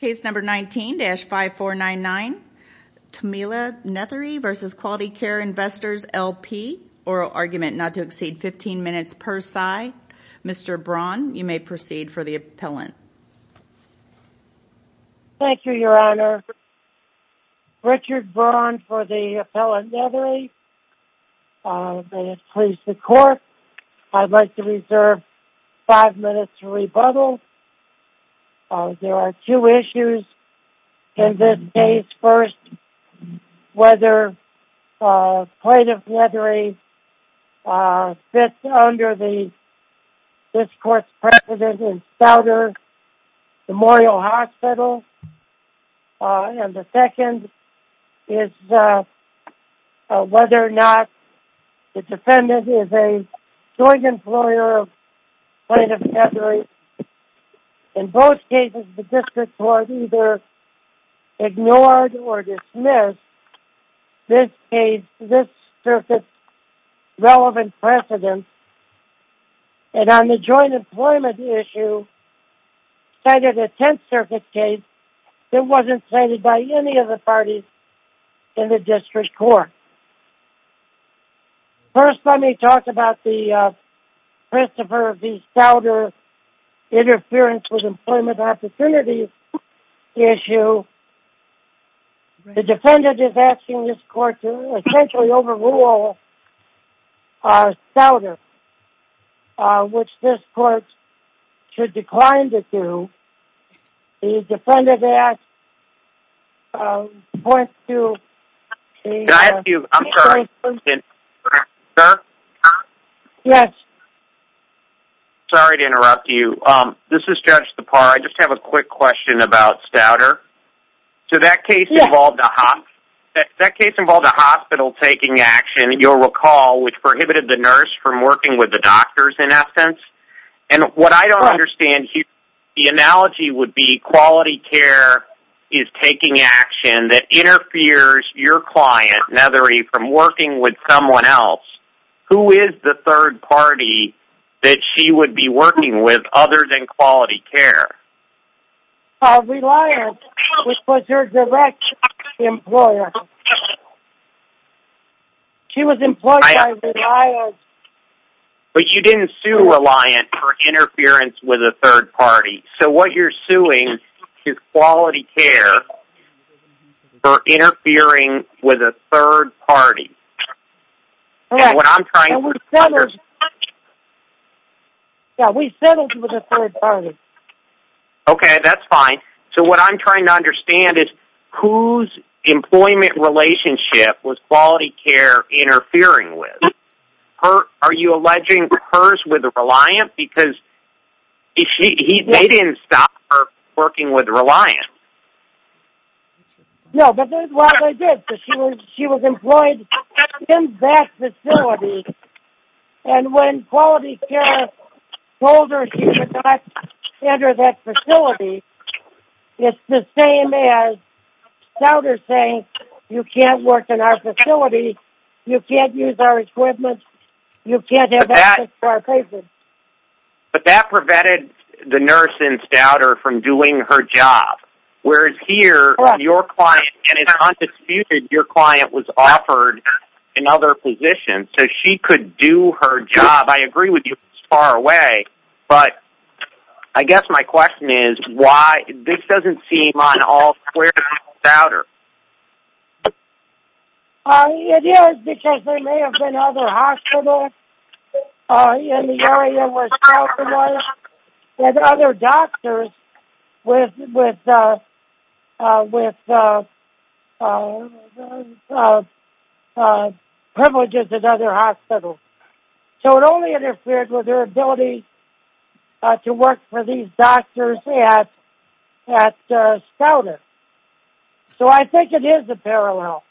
Case number 19-5499. Tamila Nethery v. Quality Care Investors LP. Oral argument not to exceed 15 minutes per side. Mr. Braun, you may proceed for the appellant. Thank you, Your Honor. Richard Braun for the appellant, Nethery. May it please the Court, I'd like to reserve five minutes to rebuttal. There are two issues in this case. First, whether Plaintiff Nethery fits under this Court's precedent in Stouder Memorial Hospital. And the second is whether or not the defendant is a joint employer of Plaintiff Nethery. In both cases, the District Court either ignored or dismissed this case, this circuit's relevant precedent. And on the joint employment issue, cited a Tenth Circuit case that wasn't cited by any of the parties in the District Court. First, let me talk about the Christopher v. Stouder interference with employment opportunities issue. The defendant is asking this Court to essentially overrule Stouder, which this Court should decline to do. The defendant asked the point to... Can I ask you, I'm sorry, can I interrupt you, sir? Yes. Sorry to interrupt you. This is Judge Tappara. I just have a quick question about Stouder. So that case involved a hospital taking action, you'll recall, which prohibited the nurse from working with the doctors, in essence. And what I don't understand here, the analogy would be quality care is taking action that interferes your client, Nethery, from working with someone else. Who is the third party that she would be working with other than quality care? Reliant, which was her direct employer. She was employed by Reliant. But you didn't sue Reliant for interference with a third party. So what you're suing is quality care for interfering with a third party. And what I'm trying to understand... Yeah, we settled with a third party. Okay, that's fine. So what I'm trying to understand is whose employment relationship was quality care interfering with? Are you alleging hers with Reliant? Because they didn't stop her working with Reliant. No, but that's what I did. She was employed in that facility, and when quality care told her she could not enter that facility, it's the same as Stouder saying, you can't work in our facility, you can't use our equipment, you can't have access to our patients. But that prevented the nurse in Stouder from doing her job. Whereas here, your client, and it's undisputed, your client was offered another position, so she could do her job. I agree with you it's far away, but I guess my question is why? This doesn't seem on all squares to Stouder. It is because there may have been other hospitals in the area where Stouder was with other doctors with privileges at other hospitals. So it only interfered with her ability to work for these doctors at Stouder. So I think it is a parallel.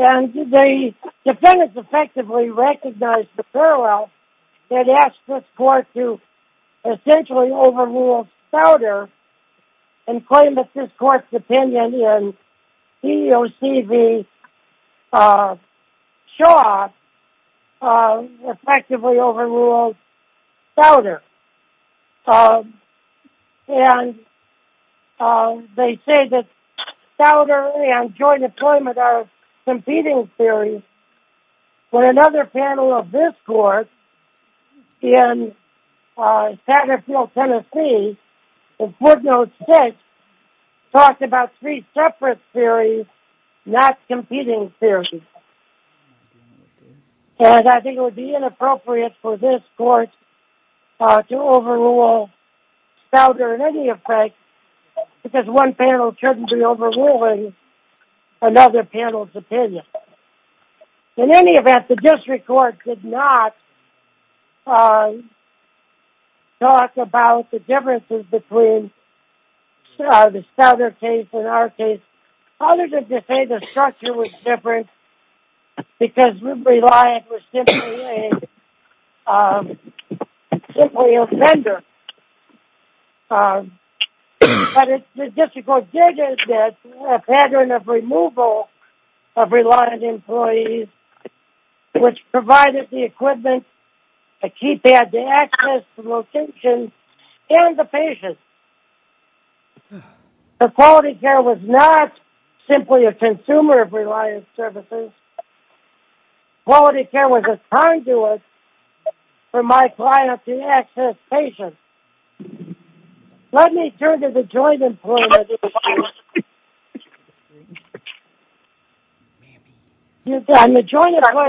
And the defendants effectively recognized the parallel and asked this court to essentially overrule Stouder and claim that this court's opinion in EEOC v. Shaw effectively overruled Stouder. And they say that Stouder and joint employment are competing theories. But another panel of this court in Satterfield, Tennessee, in 4-0-6, talked about three separate theories, not competing theories. And I think it would be inappropriate for this court to overrule Stouder in any effect because one panel shouldn't be overruling another panel's opinion. In any event, the district court did not talk about the differences between the Stouder case and our case. Other than to say the structure was different because Reliant was simply a vendor. But the district court did admit a pattern of removal of Reliant employees, which provided the equipment, the keypad, the access, the location, and the patients. The quality care was not simply a consumer of Reliant services. Quality care was a conduit for my client to access patients. Let me turn to the joint employment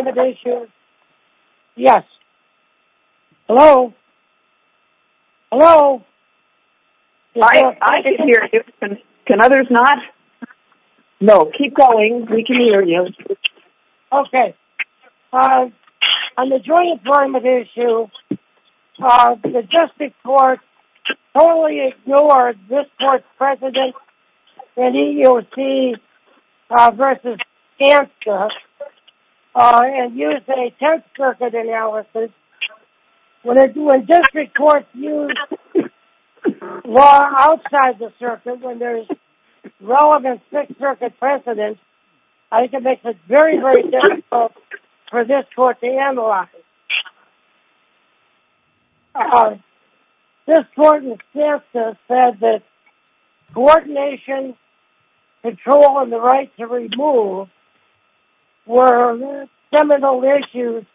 issue. Yes. Hello? Hello? I can hear you. Can others not? No. Keep going. We can hear you. Okay. On the joint employment issue, the district court totally ignored this court's precedent in EEOC v. Ganska and used a 10th Circuit analysis. When district courts use law outside the circuit when there is relevant 6th Circuit precedent, I think it makes it very, very difficult for this court to analyze. This court in Ganska said that coordination, control, and the right to remove were seminal issues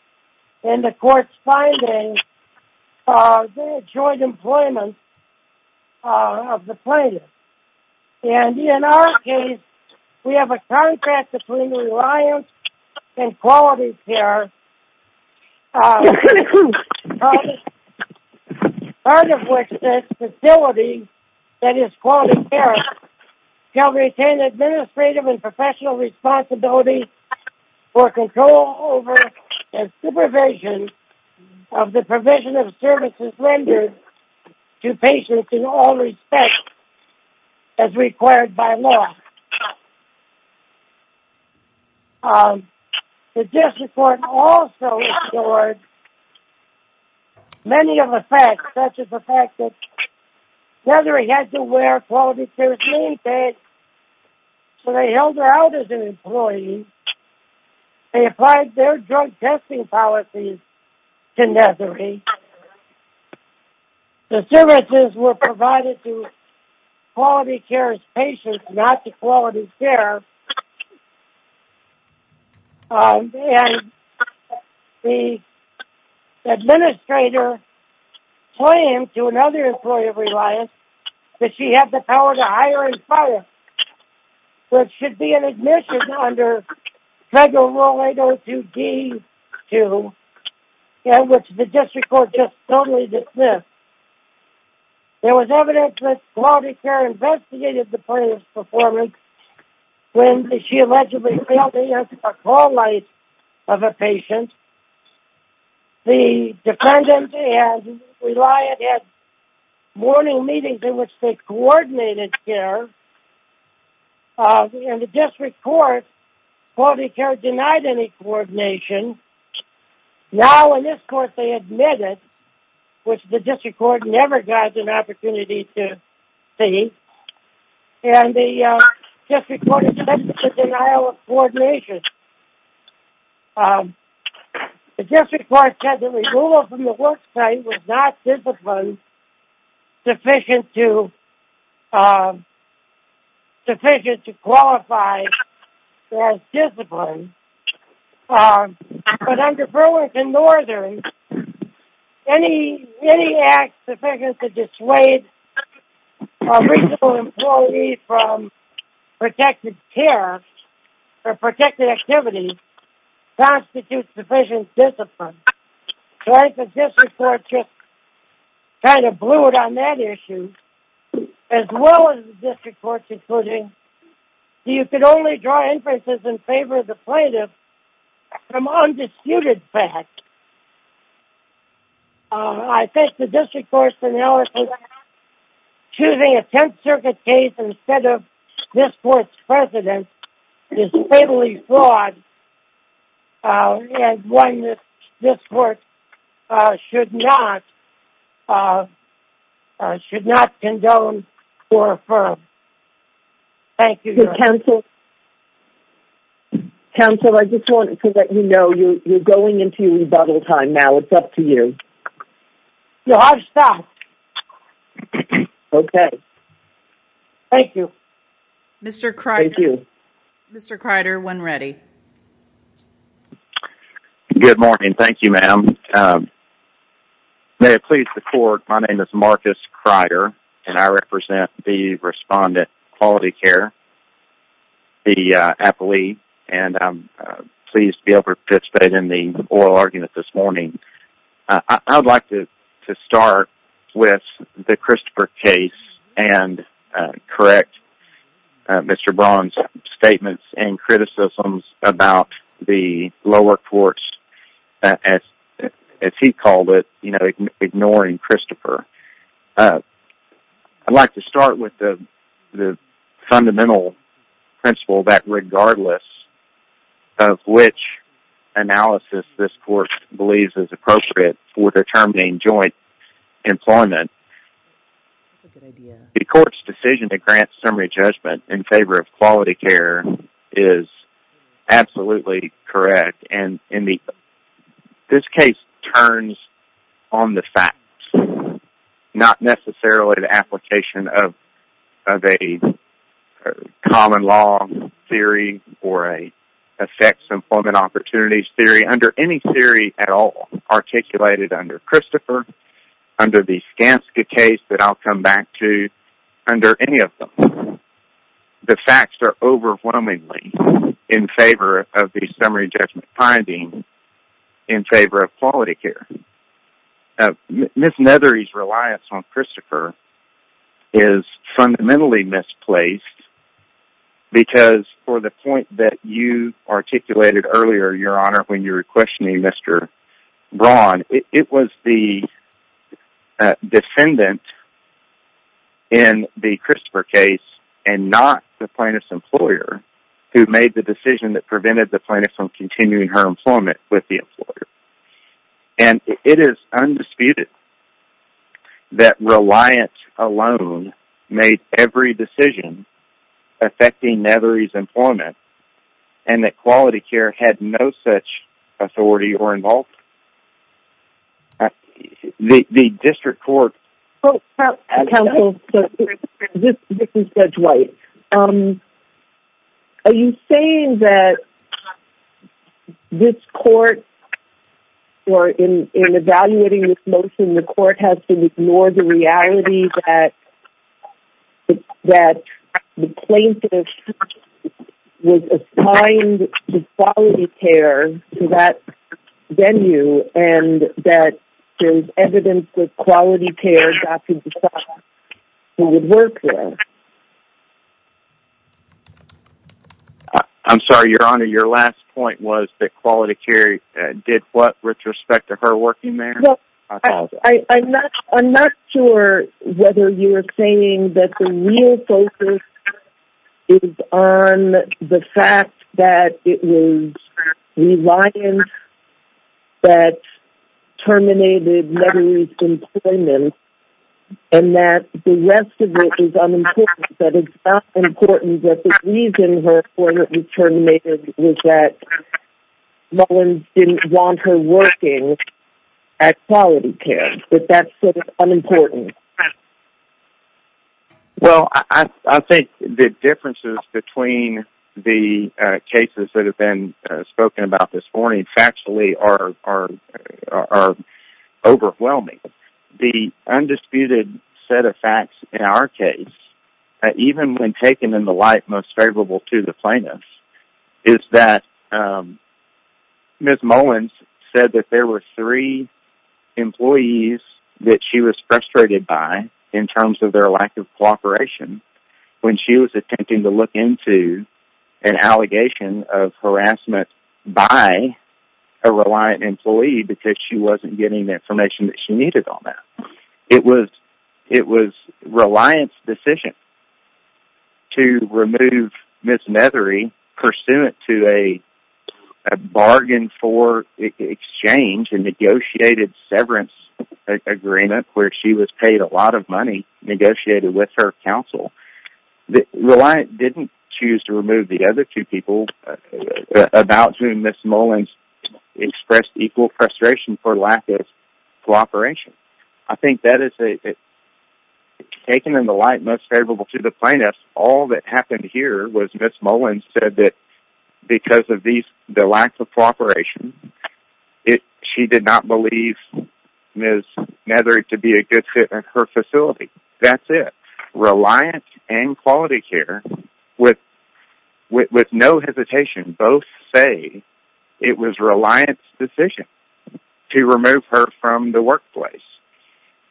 in the court's finding of the joint employment of the plaintiff. In our case, we have a contract between Reliant and Quality Care, part of which says the facility that is Quality Care shall retain administrative and professional responsibility for control over and supervision of the provision of services rendered to patients in all respects as required by law. The district court also ignored many of the facts, such as the fact that Nethery had to wear Quality Care's name tags, so they held her out as an employee. They applied their drug testing policies to Nethery. The services were provided to Quality Care's patients, not to Quality Care. The administrator claimed to another employee of Reliant that she had the power to hire and fire, which should be an admission under Federal Rule 802-D2, which the district court just totally dismissed. There was evidence that Quality Care investigated the plaintiff's performance when she allegedly failed to answer a call light of a patient. The defendant at Reliant had morning meetings in which they coordinated care, and the district court, Quality Care denied any coordination. Now, in this court, they admitted, which the district court never got an opportunity to see, and the district court accepted the denial of coordination. The district court said that removal from the work site was not discipline sufficient to qualify as discipline. But under Burlington Northern, any act sufficient to dissuade a reasonable employee from protected care or protected activity constitutes sufficient discipline. The district court just kind of blew it on that issue, as well as the district court concluding that you could only draw inferences in favor of the plaintiff from undisputed facts. I think the district court's analysis of choosing a Tenth Circuit case instead of this court's president is totally flawed, and one that this court should not condone or affirm. Counsel, I just wanted to let you know you're going into your rebuttal time now. It's up to you. No, I've stopped. Okay. Thank you. Thank you. Mr. Kreider, when ready. Good morning. Thank you, ma'am. May it please the court, my name is Marcus Kreider, and I represent the Respondent Quality Care, the appellee, and I'm pleased to be able to participate in the oral argument this morning. I'd like to start with the Christopher case and correct Mr. Braun's statements and criticisms about the lower courts, as he called it, ignoring Christopher. I'd like to start with the fundamental principle that regardless of which analysis this court believes is appropriate for determining joint employment, the court's decision to grant summary judgment in favor of quality care is absolutely correct. This case turns on the facts, not necessarily the application of a common law theory or an effects employment opportunities theory under any theory at all articulated under Christopher, under the Skanska case that I'll come back to, under any of them. The facts are overwhelmingly in favor of the summary judgment finding in favor of quality care. Ms. Nethery's reliance on Christopher is fundamentally misplaced because for the point that you articulated earlier, your honor, when you were questioning Mr. Braun, it was the defendant in the Christopher case and not the plaintiff's employer who made the decision that prevented the plaintiff from continuing her employment with the employer. And it is undisputed that reliance alone made every decision affecting Nethery's employment and that quality care had no such authority or involvement. The district court... I'm sorry, your honor, your last point was that quality care did what with respect to her working there? I'm not sure whether you're saying that the real focus is on the fact that it was reliance that terminated Nethery's employment and that the rest of it is unimportant, that it's not important that the reason her employment was terminated was that no one didn't want her working at quality. Well, I think the differences between the cases that have been spoken about this morning actually are overwhelming. The undisputed set of facts in our case, even when taken in the light most favorable to the plaintiff, is that Ms. Mullins said that there were three employees that she was frustrated by in terms of their lack of cooperation when she was attempting to look into an allegation of harassment by a reliant employee because she wasn't getting the information that she needed. It was reliance's decision to remove Ms. Nethery pursuant to a bargain for exchange and negotiated severance agreement where she was paid a lot of money negotiated with her counsel. Reliance didn't choose to remove the other two people about whom Ms. Mullins expressed equal frustration for lack of cooperation. I think that is, taken in the light most favorable to the plaintiff, all that happened here was Ms. Mullins said that because of the lack of cooperation, she did not believe Ms. Nethery to be a good fit at her facility. That's it. Reliance and Quality Care, with no hesitation, both say it was reliance's decision to remove her from the workplace.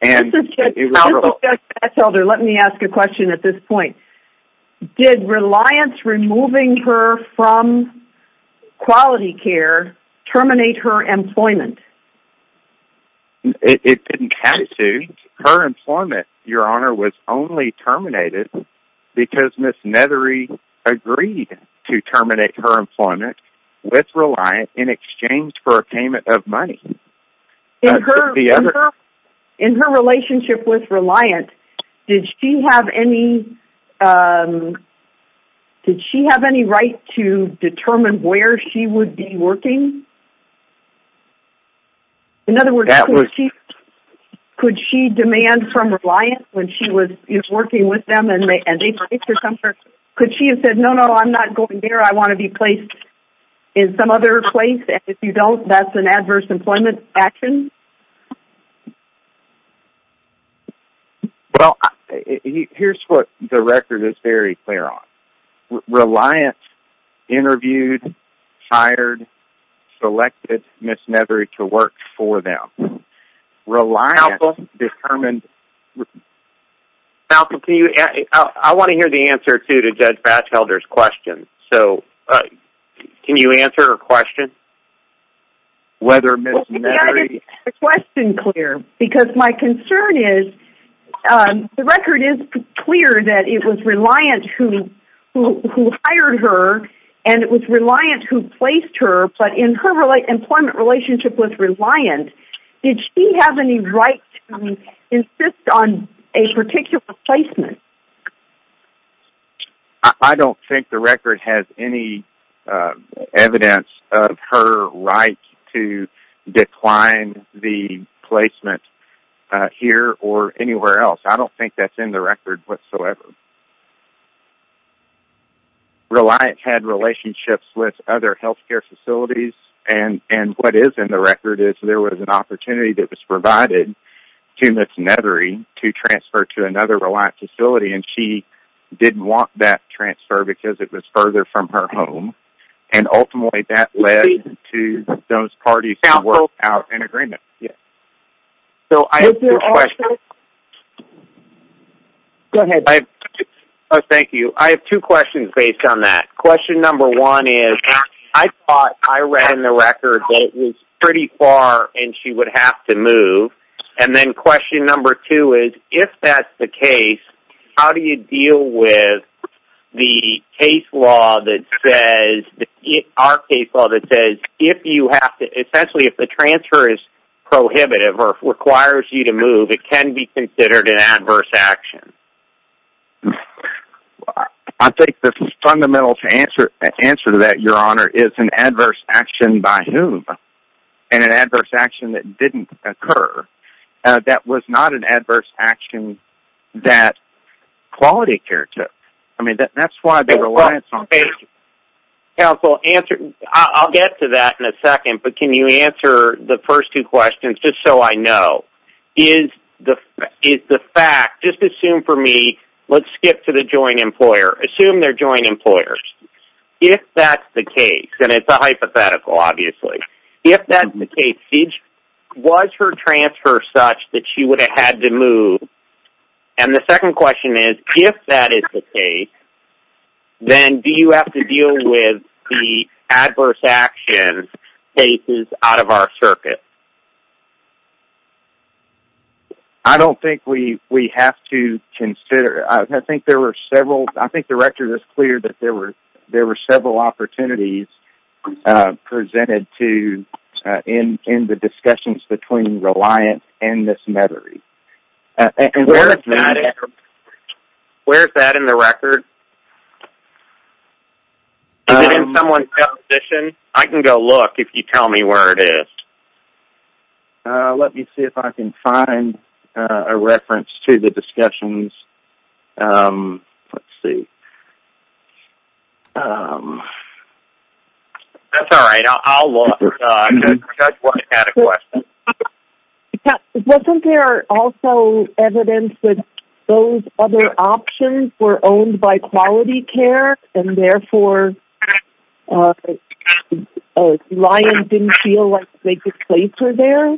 This is just a catch-all there. Let me ask a question at this point. Did reliance removing her from Quality Care terminate her employment? It didn't have to. Her employment, your honor, was only terminated because Ms. Nethery agreed to terminate her employment with Reliance in exchange for a payment of money. In her relationship with Reliance, did she have any right to determine where she would be working? In other words, could she demand from Reliance when she was working with them and they placed her somewhere? Could she have said, no, no, I'm not going there. I want to be placed in some other place and if you don't, that's an adverse employment action? Well, here's what the record is very clear on. Reliance interviewed, hired, selected Ms. Nethery to work for them. Reliance determined... Malcolm, I want to hear the answer to Judge Batchelder's question. Can you answer her question? Well, we've got to get the question clear because my concern is the record is clear that it was Reliance who hired her and it was Reliance who placed her, but in her employment relationship with Reliance, did she have any right to insist on a particular placement? I don't think the record has any evidence of her right to decline the placement here or anywhere else. I don't think that's in the record whatsoever. Reliance had relationships with other healthcare facilities and what is in the record is there was an opportunity that was provided to Ms. Nethery to transfer to another Reliance facility and she didn't want that transfer because it was further from her home and ultimately that led to those parties to work out an agreement. Is there also... Go ahead. I think the fundamental answer to that, Your Honor, is an adverse action by whom and an adverse action that didn't occur. That was not an adverse action that Quality Care took. I mean, that's why Reliance... Counsel, I'll get to that in a second, but can you answer the first two questions just so I know. Is the fact, just assume for me, let's skip to the joint employer. Assume they're joint employers. If that's the case, and it's a hypothetical obviously, if that's the case, was her transfer such that she would have had to move? And the second question is, if that is the case, then do you have to deal with the adverse action cases out of our circuit? I don't think we have to consider... I think there were several... I think the record is clear that there were several opportunities presented to... in the discussions between Reliance and Ms. Nethery. Where is that in the record? Is it in someone's composition? I can go look if you tell me where it is. Let me see if I can find a reference to the discussions. Let's see. That's all right. I'll look. I just wanted to add a question. Wasn't there also evidence that those other options were owned by Quality Care and therefore Reliance didn't feel like they could place her there?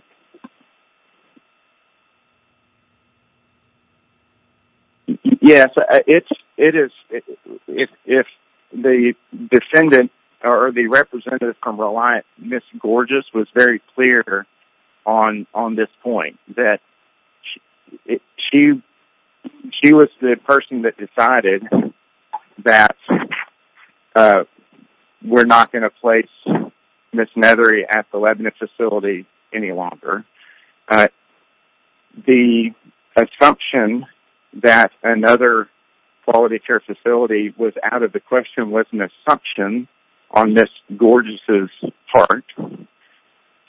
Yes. It is... If the defendant or the representative from Reliance, Ms. Gorgeous, was very clear on this point, that she was the person that decided that we're not going to place Ms. Nethery at the Lebanon facility any longer. The assumption that another Quality Care facility was out of the question was an assumption on Ms. Gorgeous' part.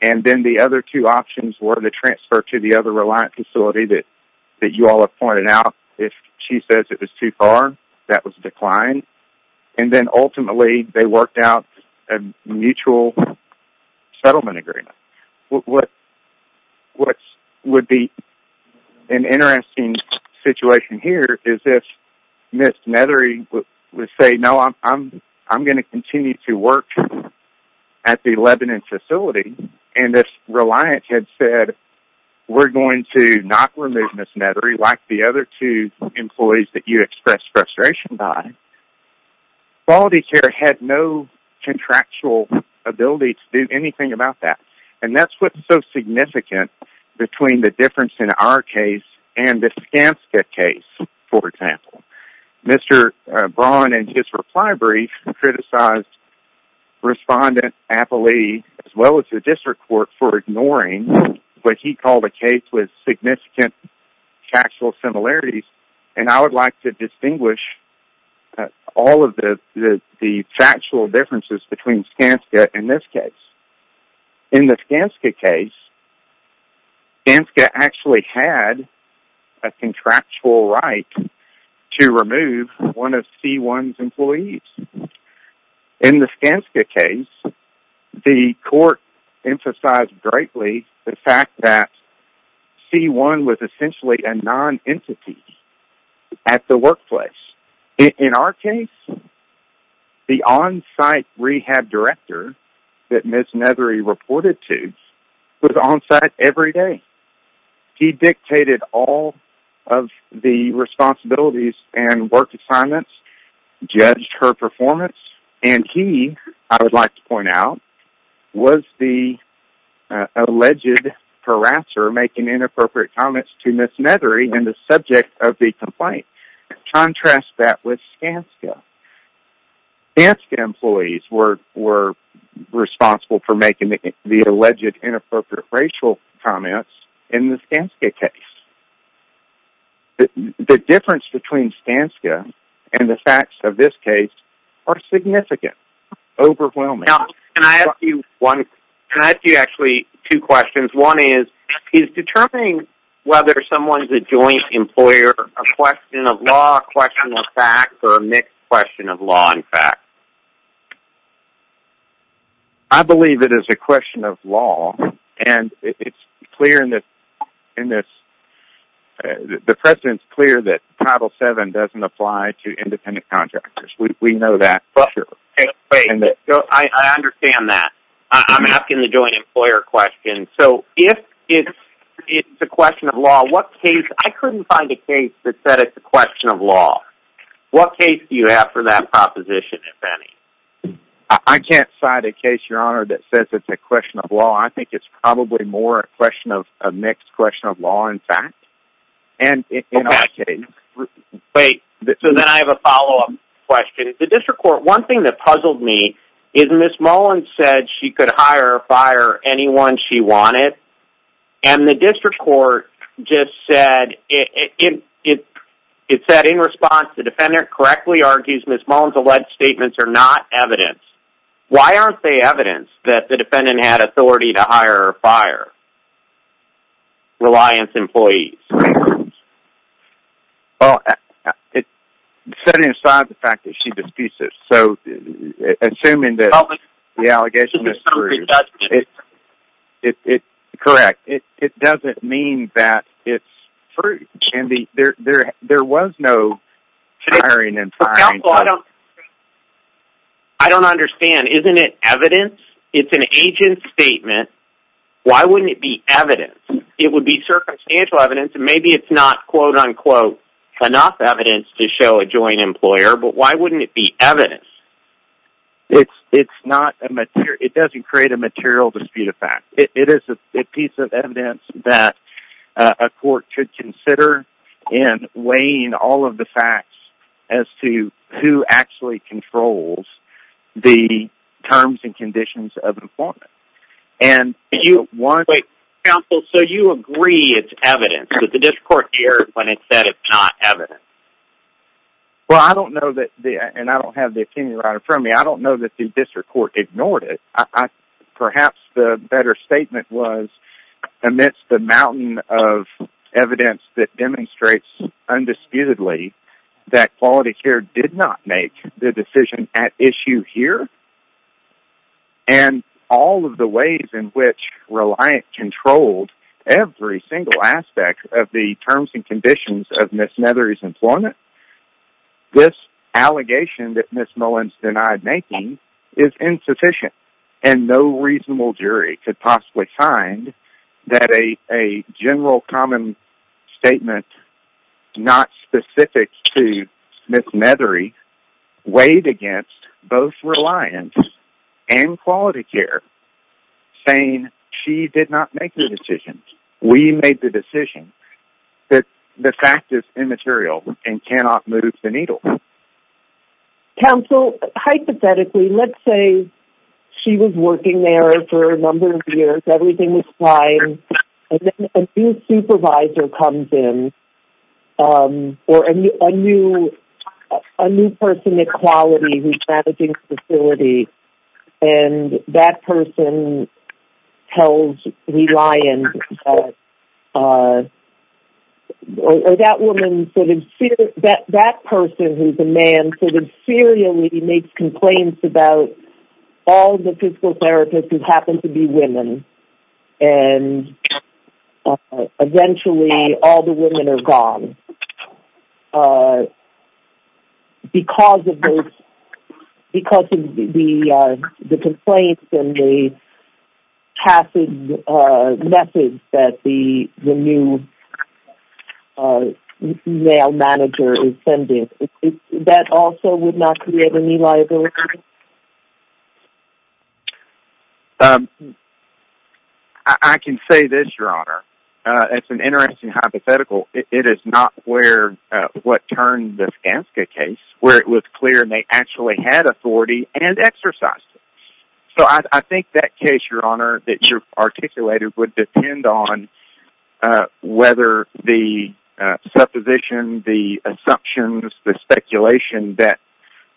And then the other two options were the transfer to the other Reliance facility that you all have pointed out. If she says it was too far, that was declined. And then ultimately they worked out a mutual settlement agreement. What would be an interesting situation here is if Ms. Nethery would say, no, I'm going to continue to work at the Lebanon facility and if Reliance had said, we're going to not remove Ms. Nethery like the other two employees that you expressed frustration by, Quality Care had no contractual ability to do anything about that. And that's what's so significant between the difference in our case and the Skanska case, for example. Mr. Braun, in his reply brief, criticized Respondent Appley, as well as the District Court, for ignoring what he called a case with significant factual similarities. And I would like to distinguish all of the factual differences between Skanska and this case. In the Skanska case, Skanska actually had a contractual right to remove one of C1's employees. In the Skanska case, the court emphasized greatly the fact that C1 was essentially a non-entity at the workplace. In our case, the on-site rehab director that Ms. Nethery reported to was on-site every day. He dictated all of the responsibilities and work assignments, judged her performance, and he, I would like to point out, was the alleged harasser making inappropriate comments to Ms. Nethery in the subject of the complaint. Contrast that with Skanska. Skanska employees were responsible for making the alleged inappropriate racial comments in the Skanska case. The difference between Skanska and the facts of this case are significant. Overwhelming. Now, can I ask you actually two questions? One is, is determining whether someone is a joint employer a question of law, a question of facts, or a mixed question of law and facts? I believe it is a question of law, and it's clear in this, the precedent's clear that Title VII doesn't apply to independent contractors. We know that for sure. I understand that. I'm asking the joint employer question. So, if it's a question of law, what case, I couldn't find a case that said it's a question of law. What case do you have for that proposition, if any? I can't cite a case, Your Honor, that says it's a question of law. I think it's probably more a question of, a mixed question of law and facts. Wait, so then I have a follow-up question. The district court, one thing that puzzled me is Ms. Mullins said she could hire or fire anyone she wanted, and the district court just said, it said in response, the defendant correctly argues Ms. Mullins alleged statements are not evidence. Why aren't they evidence that the defendant had authority to hire or fire Reliance employees? Well, setting aside the fact that she disputes it, so assuming that the allegation is true, it's correct. It doesn't mean that it's true. There was no hiring and firing. I don't understand. Isn't it evidence? It's an agent statement. Why wouldn't it be evidence? It would be circumstantial evidence, and maybe it's not, quote-unquote, enough evidence to show a joint employer, but why wouldn't it be evidence? It doesn't create a material dispute of fact. It is a piece of evidence that a court should consider in weighing all of the facts as to who actually controls the terms and conditions of employment. Wait, counsel, so you agree it's evidence, but the district court erred when it said it's not evidence. Well, I don't know, and I don't have the opinion right in front of me, I don't know that the district court ignored it. Perhaps the better statement was amidst the mountain of evidence that demonstrates undisputedly that Quality Care did not make the decision at issue here, and all of the ways in which Reliant controlled every single aspect of the terms and conditions of Ms. Nethery's employment, this allegation that Ms. Mullins denied making is insufficient, and no reasonable jury could possibly find that a general common statement not specific to Ms. Nethery weighed against both Reliant and Quality Care, saying she did not make the decision, we made the decision, the fact is immaterial and cannot move the needle. Counsel, hypothetically, let's say she was working there for a number of years, everything was fine, and then a new supervisor comes in, or a new person at Quality who's managing the facility, and that person tells Reliant that that person who's a man inferiorly makes complaints about all the physical therapists who happen to be women, and eventually all the women are gone, because of the complaints and the passive message that the new male manager is sending. That also would not create any liability? I can say this, Your Honor, it's an interesting hypothetical, it is not what turned the Skanska case, where it was clear they actually had authority and exercised it. So I think that case, Your Honor, that you've articulated would depend on whether the supposition, the assumptions, the speculation that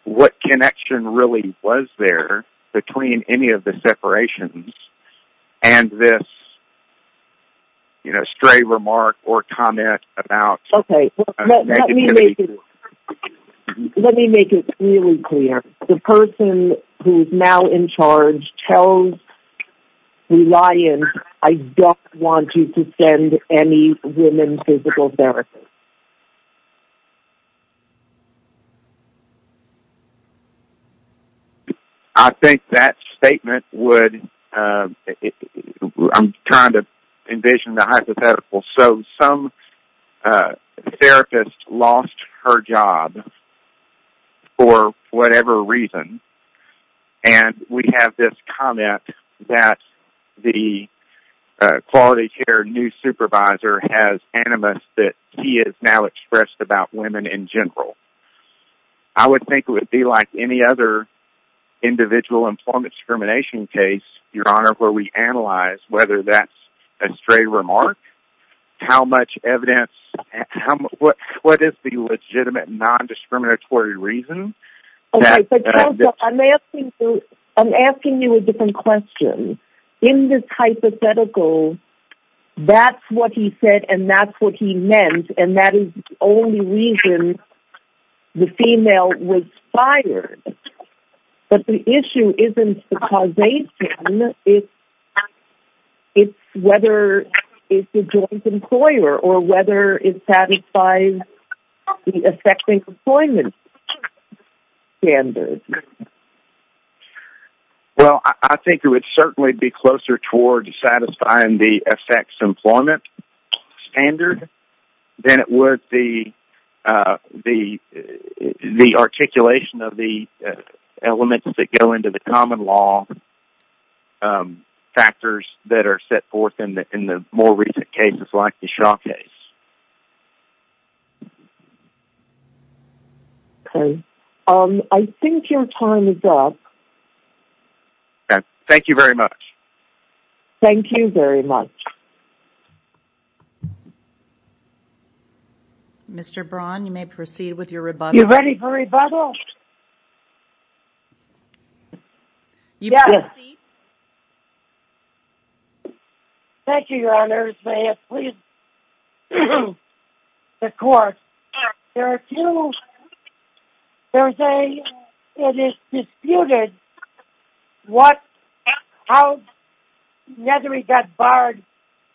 what connection really was there between any of the separations and this stray remark or comment about... Okay, let me make it really clear. The person who's now in charge tells Reliant, I don't want you to send any women physical therapists. I think that statement would... I'm trying to envision the hypothetical. So some therapist lost her job for whatever reason, and we have this comment that the Quality Care new supervisor has animus that he has now expressed about women in general. I would think it would be like any other individual employment discrimination case, Your Honor, where we analyze whether that's a stray remark, how much evidence... What is the legitimate non-discriminatory reason? Okay, but Joseph, I'm asking you a different question. In this hypothetical, that's what he said and that's what he meant, and that is the only reason the female was fired. But the issue isn't the causation. It's whether it's a joint employer or whether it satisfies the effective employment standard. Well, I think it would certainly be closer towards satisfying the effects employment standard than it would be the articulation of the elements that go into the common law factors that are set forth in the more recent cases like the Shaw case. Okay. I think your time is up. Thank you very much. Thank you very much. Mr. Braun, you may proceed with your rebuttal. You ready for rebuttal? Yes. You may proceed. Thank you, Your Honors. May it please the court. There are two... There's a... It is disputed what... how Nethery got barred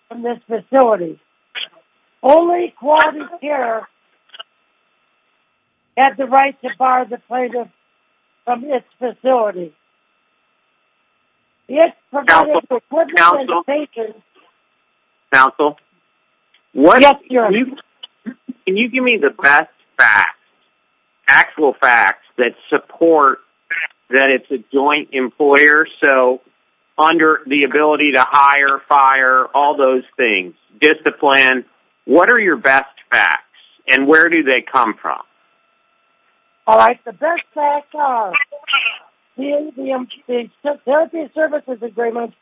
from this facility. Only quality care has the right to bar the plaintiff from this facility. Counsel? Counsel? Counsel? Yes, Your Honor. Can you give me the best facts, actual facts that support that it's a joint employer, so under the ability to hire, fire, all those things, get the plan. What are your best facts, and where do they come from? All right. The best facts are in the therapy services agreement,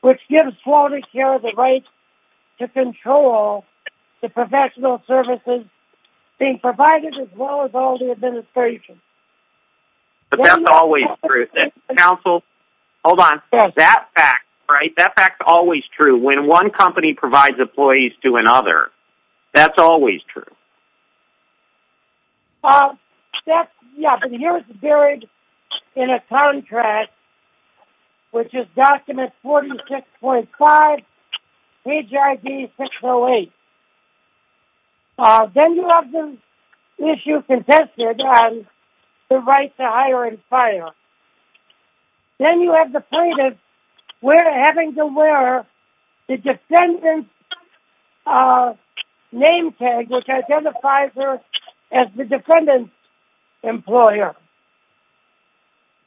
which gives quality care the right to control the professional services being provided as well as all the administration. But that's always true. Counsel, hold on. That fact, right, that fact's always true. When one company provides employees to another, that's always true. That's... Yeah, but here's the period in a contract, which is document 46.5, page ID 608. Then you have the issue contested on the right to hire and fire. Then you have the plaintiff having to wear the defendant's name tag, which identifies her as the defendant's employer.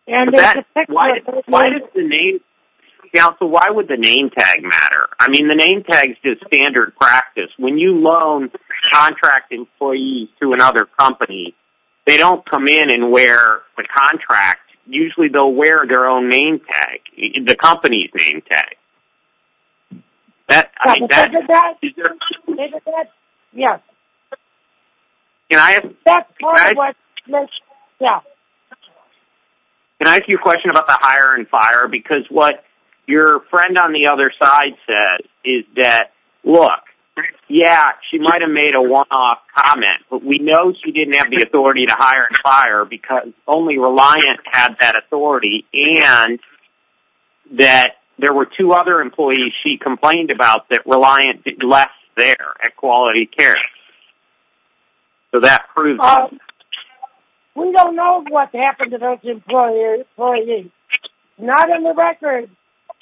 Why does the name... Counsel, why would the name tag matter? I mean, the name tag's just standard practice. When you loan contract employees to another company, they don't come in and wear a contract. Usually they'll wear their own name tag, the company's name tag. Yeah. Can I ask you a question about the hire and fire? Because what your friend on the other side said is that, look, yeah, she might have made a one-off comment, but we know she didn't have the authority to hire and fire because only Reliant had that authority, and that there were two other employees she complained about that Reliant left there at Quality Care. So that proves... We don't know what happened to those employees, not on the record,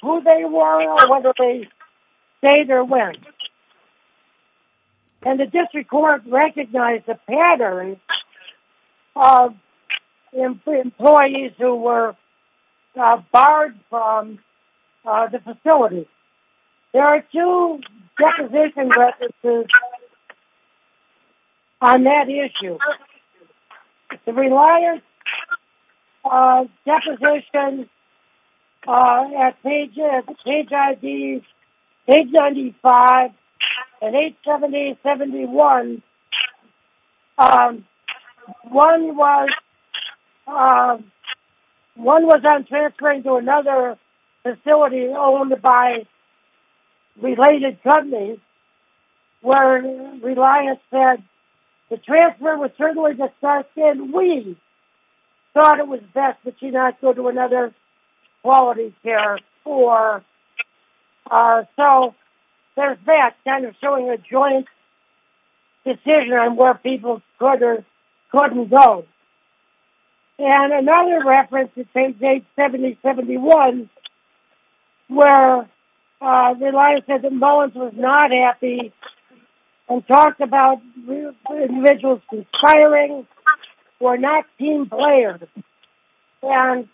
who they were or whether they stayed or went. And the district court recognized a pattern of employees who were barred from the facility. There are two deposition records on that issue. The Reliant deposition at page 95 and 870.71, one was on transferring to another facility owned by related companies, where Reliant said the transfer was certainly discussed and we thought it was best that she not go to another Quality Care. So there's that kind of showing a joint decision on where people could or couldn't go. And another reference at page 870.71, where Reliant said that Mullins was not happy and talked about individuals conspiring who are not team players. And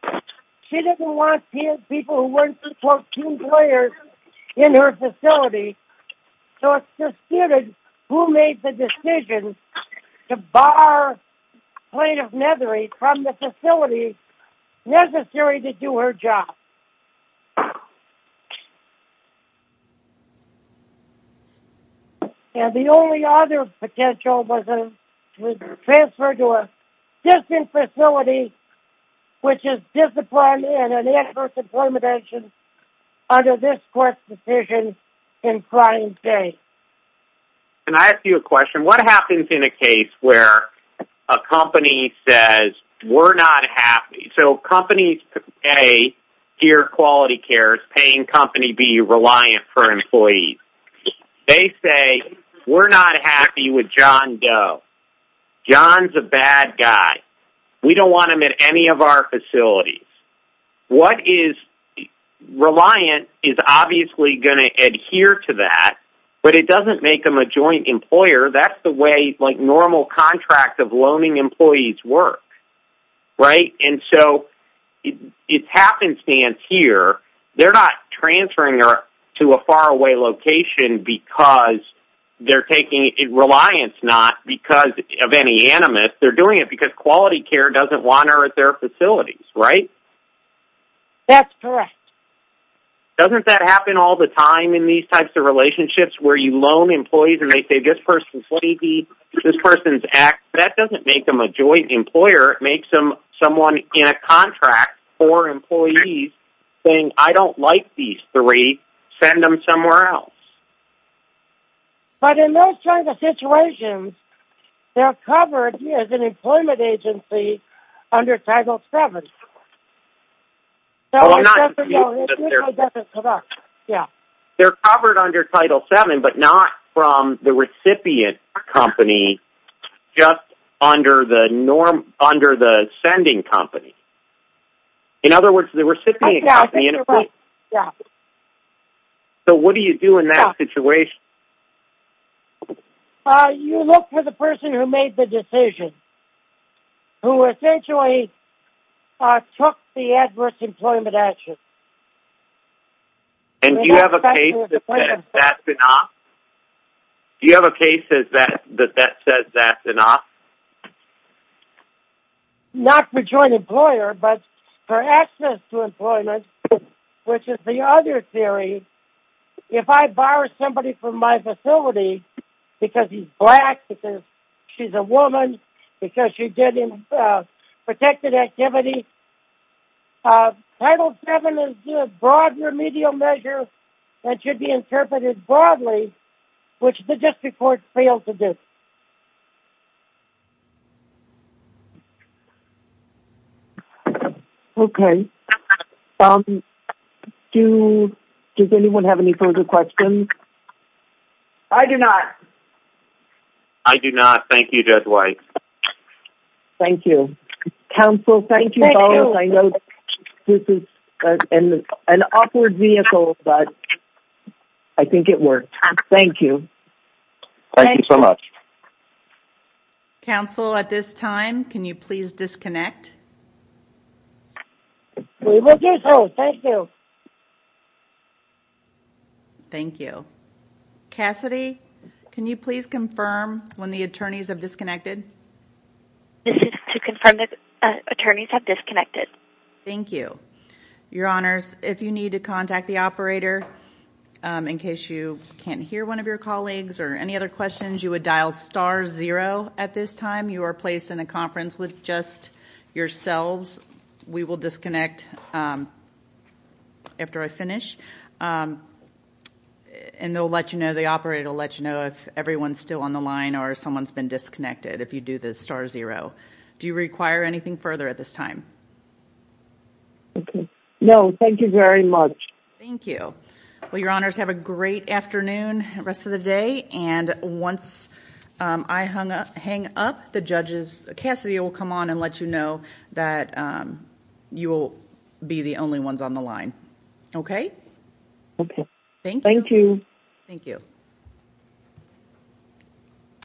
she didn't want people who weren't, quote, team players in her facility, so it's disputed who made the decision to bar Plain of Nethery from the facility necessary to do her job. And the only other potential was to transfer to a distant facility, which is disciplined in an adverse employment action under this court's decision in client A. Can I ask you a question? What happens in a case where a company says, we're not happy? So companies, A, hear Quality Care is paying company B Reliant for employees. They say, we're not happy with John Doe. John's a bad guy. We don't want him in any of our facilities. What is Reliant is obviously going to adhere to that, but it doesn't make them a joint employer. That's the way normal contract of loaning employees work, right? And so it's happenstance here. They're not transferring her to a faraway location because they're taking it. Reliant's not because of any animus. They're doing it because Quality Care doesn't want her at their facilities. Right? That's correct. Doesn't that happen all the time in these types of relationships where you loan employees and they say, this person's sleepy, this person's act. That doesn't make them a joint employer. It makes them someone in a contract for employees saying, I don't like these three. Send them somewhere else. But in those types of situations, they're covered as an employment agency under Title VII. They're covered under Title VII, but not from the recipient company, just under the sending company. In other words, the recipient company. So what do you do in that situation? You look for the person who made the decision, who essentially took the adverse employment action. And do you have a case that says that's enough? Do you have a case that says that's enough? Not for joint employer, but for access to employment, which is the other theory. If I bar somebody from my facility because he's black, because she's a woman, because she did a protected activity, Title VII is a broad remedial measure that should be interpreted broadly, which the district courts failed to do. Okay. Does anyone have any further questions? I do not. I do not. Thank you, Judge White. Thank you. Counsel, thank you. I know this is an awkward vehicle, but I think it worked. Thank you. Thank you so much. Counsel, at this time, can you please disconnect? We will do so. Thank you. Thank you. Cassidy, can you please confirm when the attorneys have disconnected? This is to confirm that attorneys have disconnected. Thank you. Your Honors, if you need to contact the operator, in case you can't hear one of your colleagues or any other questions, you would dial star zero at this time. You are placed in a conference with just yourselves. We will disconnect after I finish, and they'll let you know. The operator will let you know if everyone's still on the line or someone's been disconnected if you do the star zero. Do you require anything further at this time? No. Thank you very much. Thank you. Your Honors, have a great afternoon, rest of the day. Once I hang up, Cassidy will come on and let you know that you will be the only ones on the line. Okay? Okay. Thank you. Thank you. Thank you.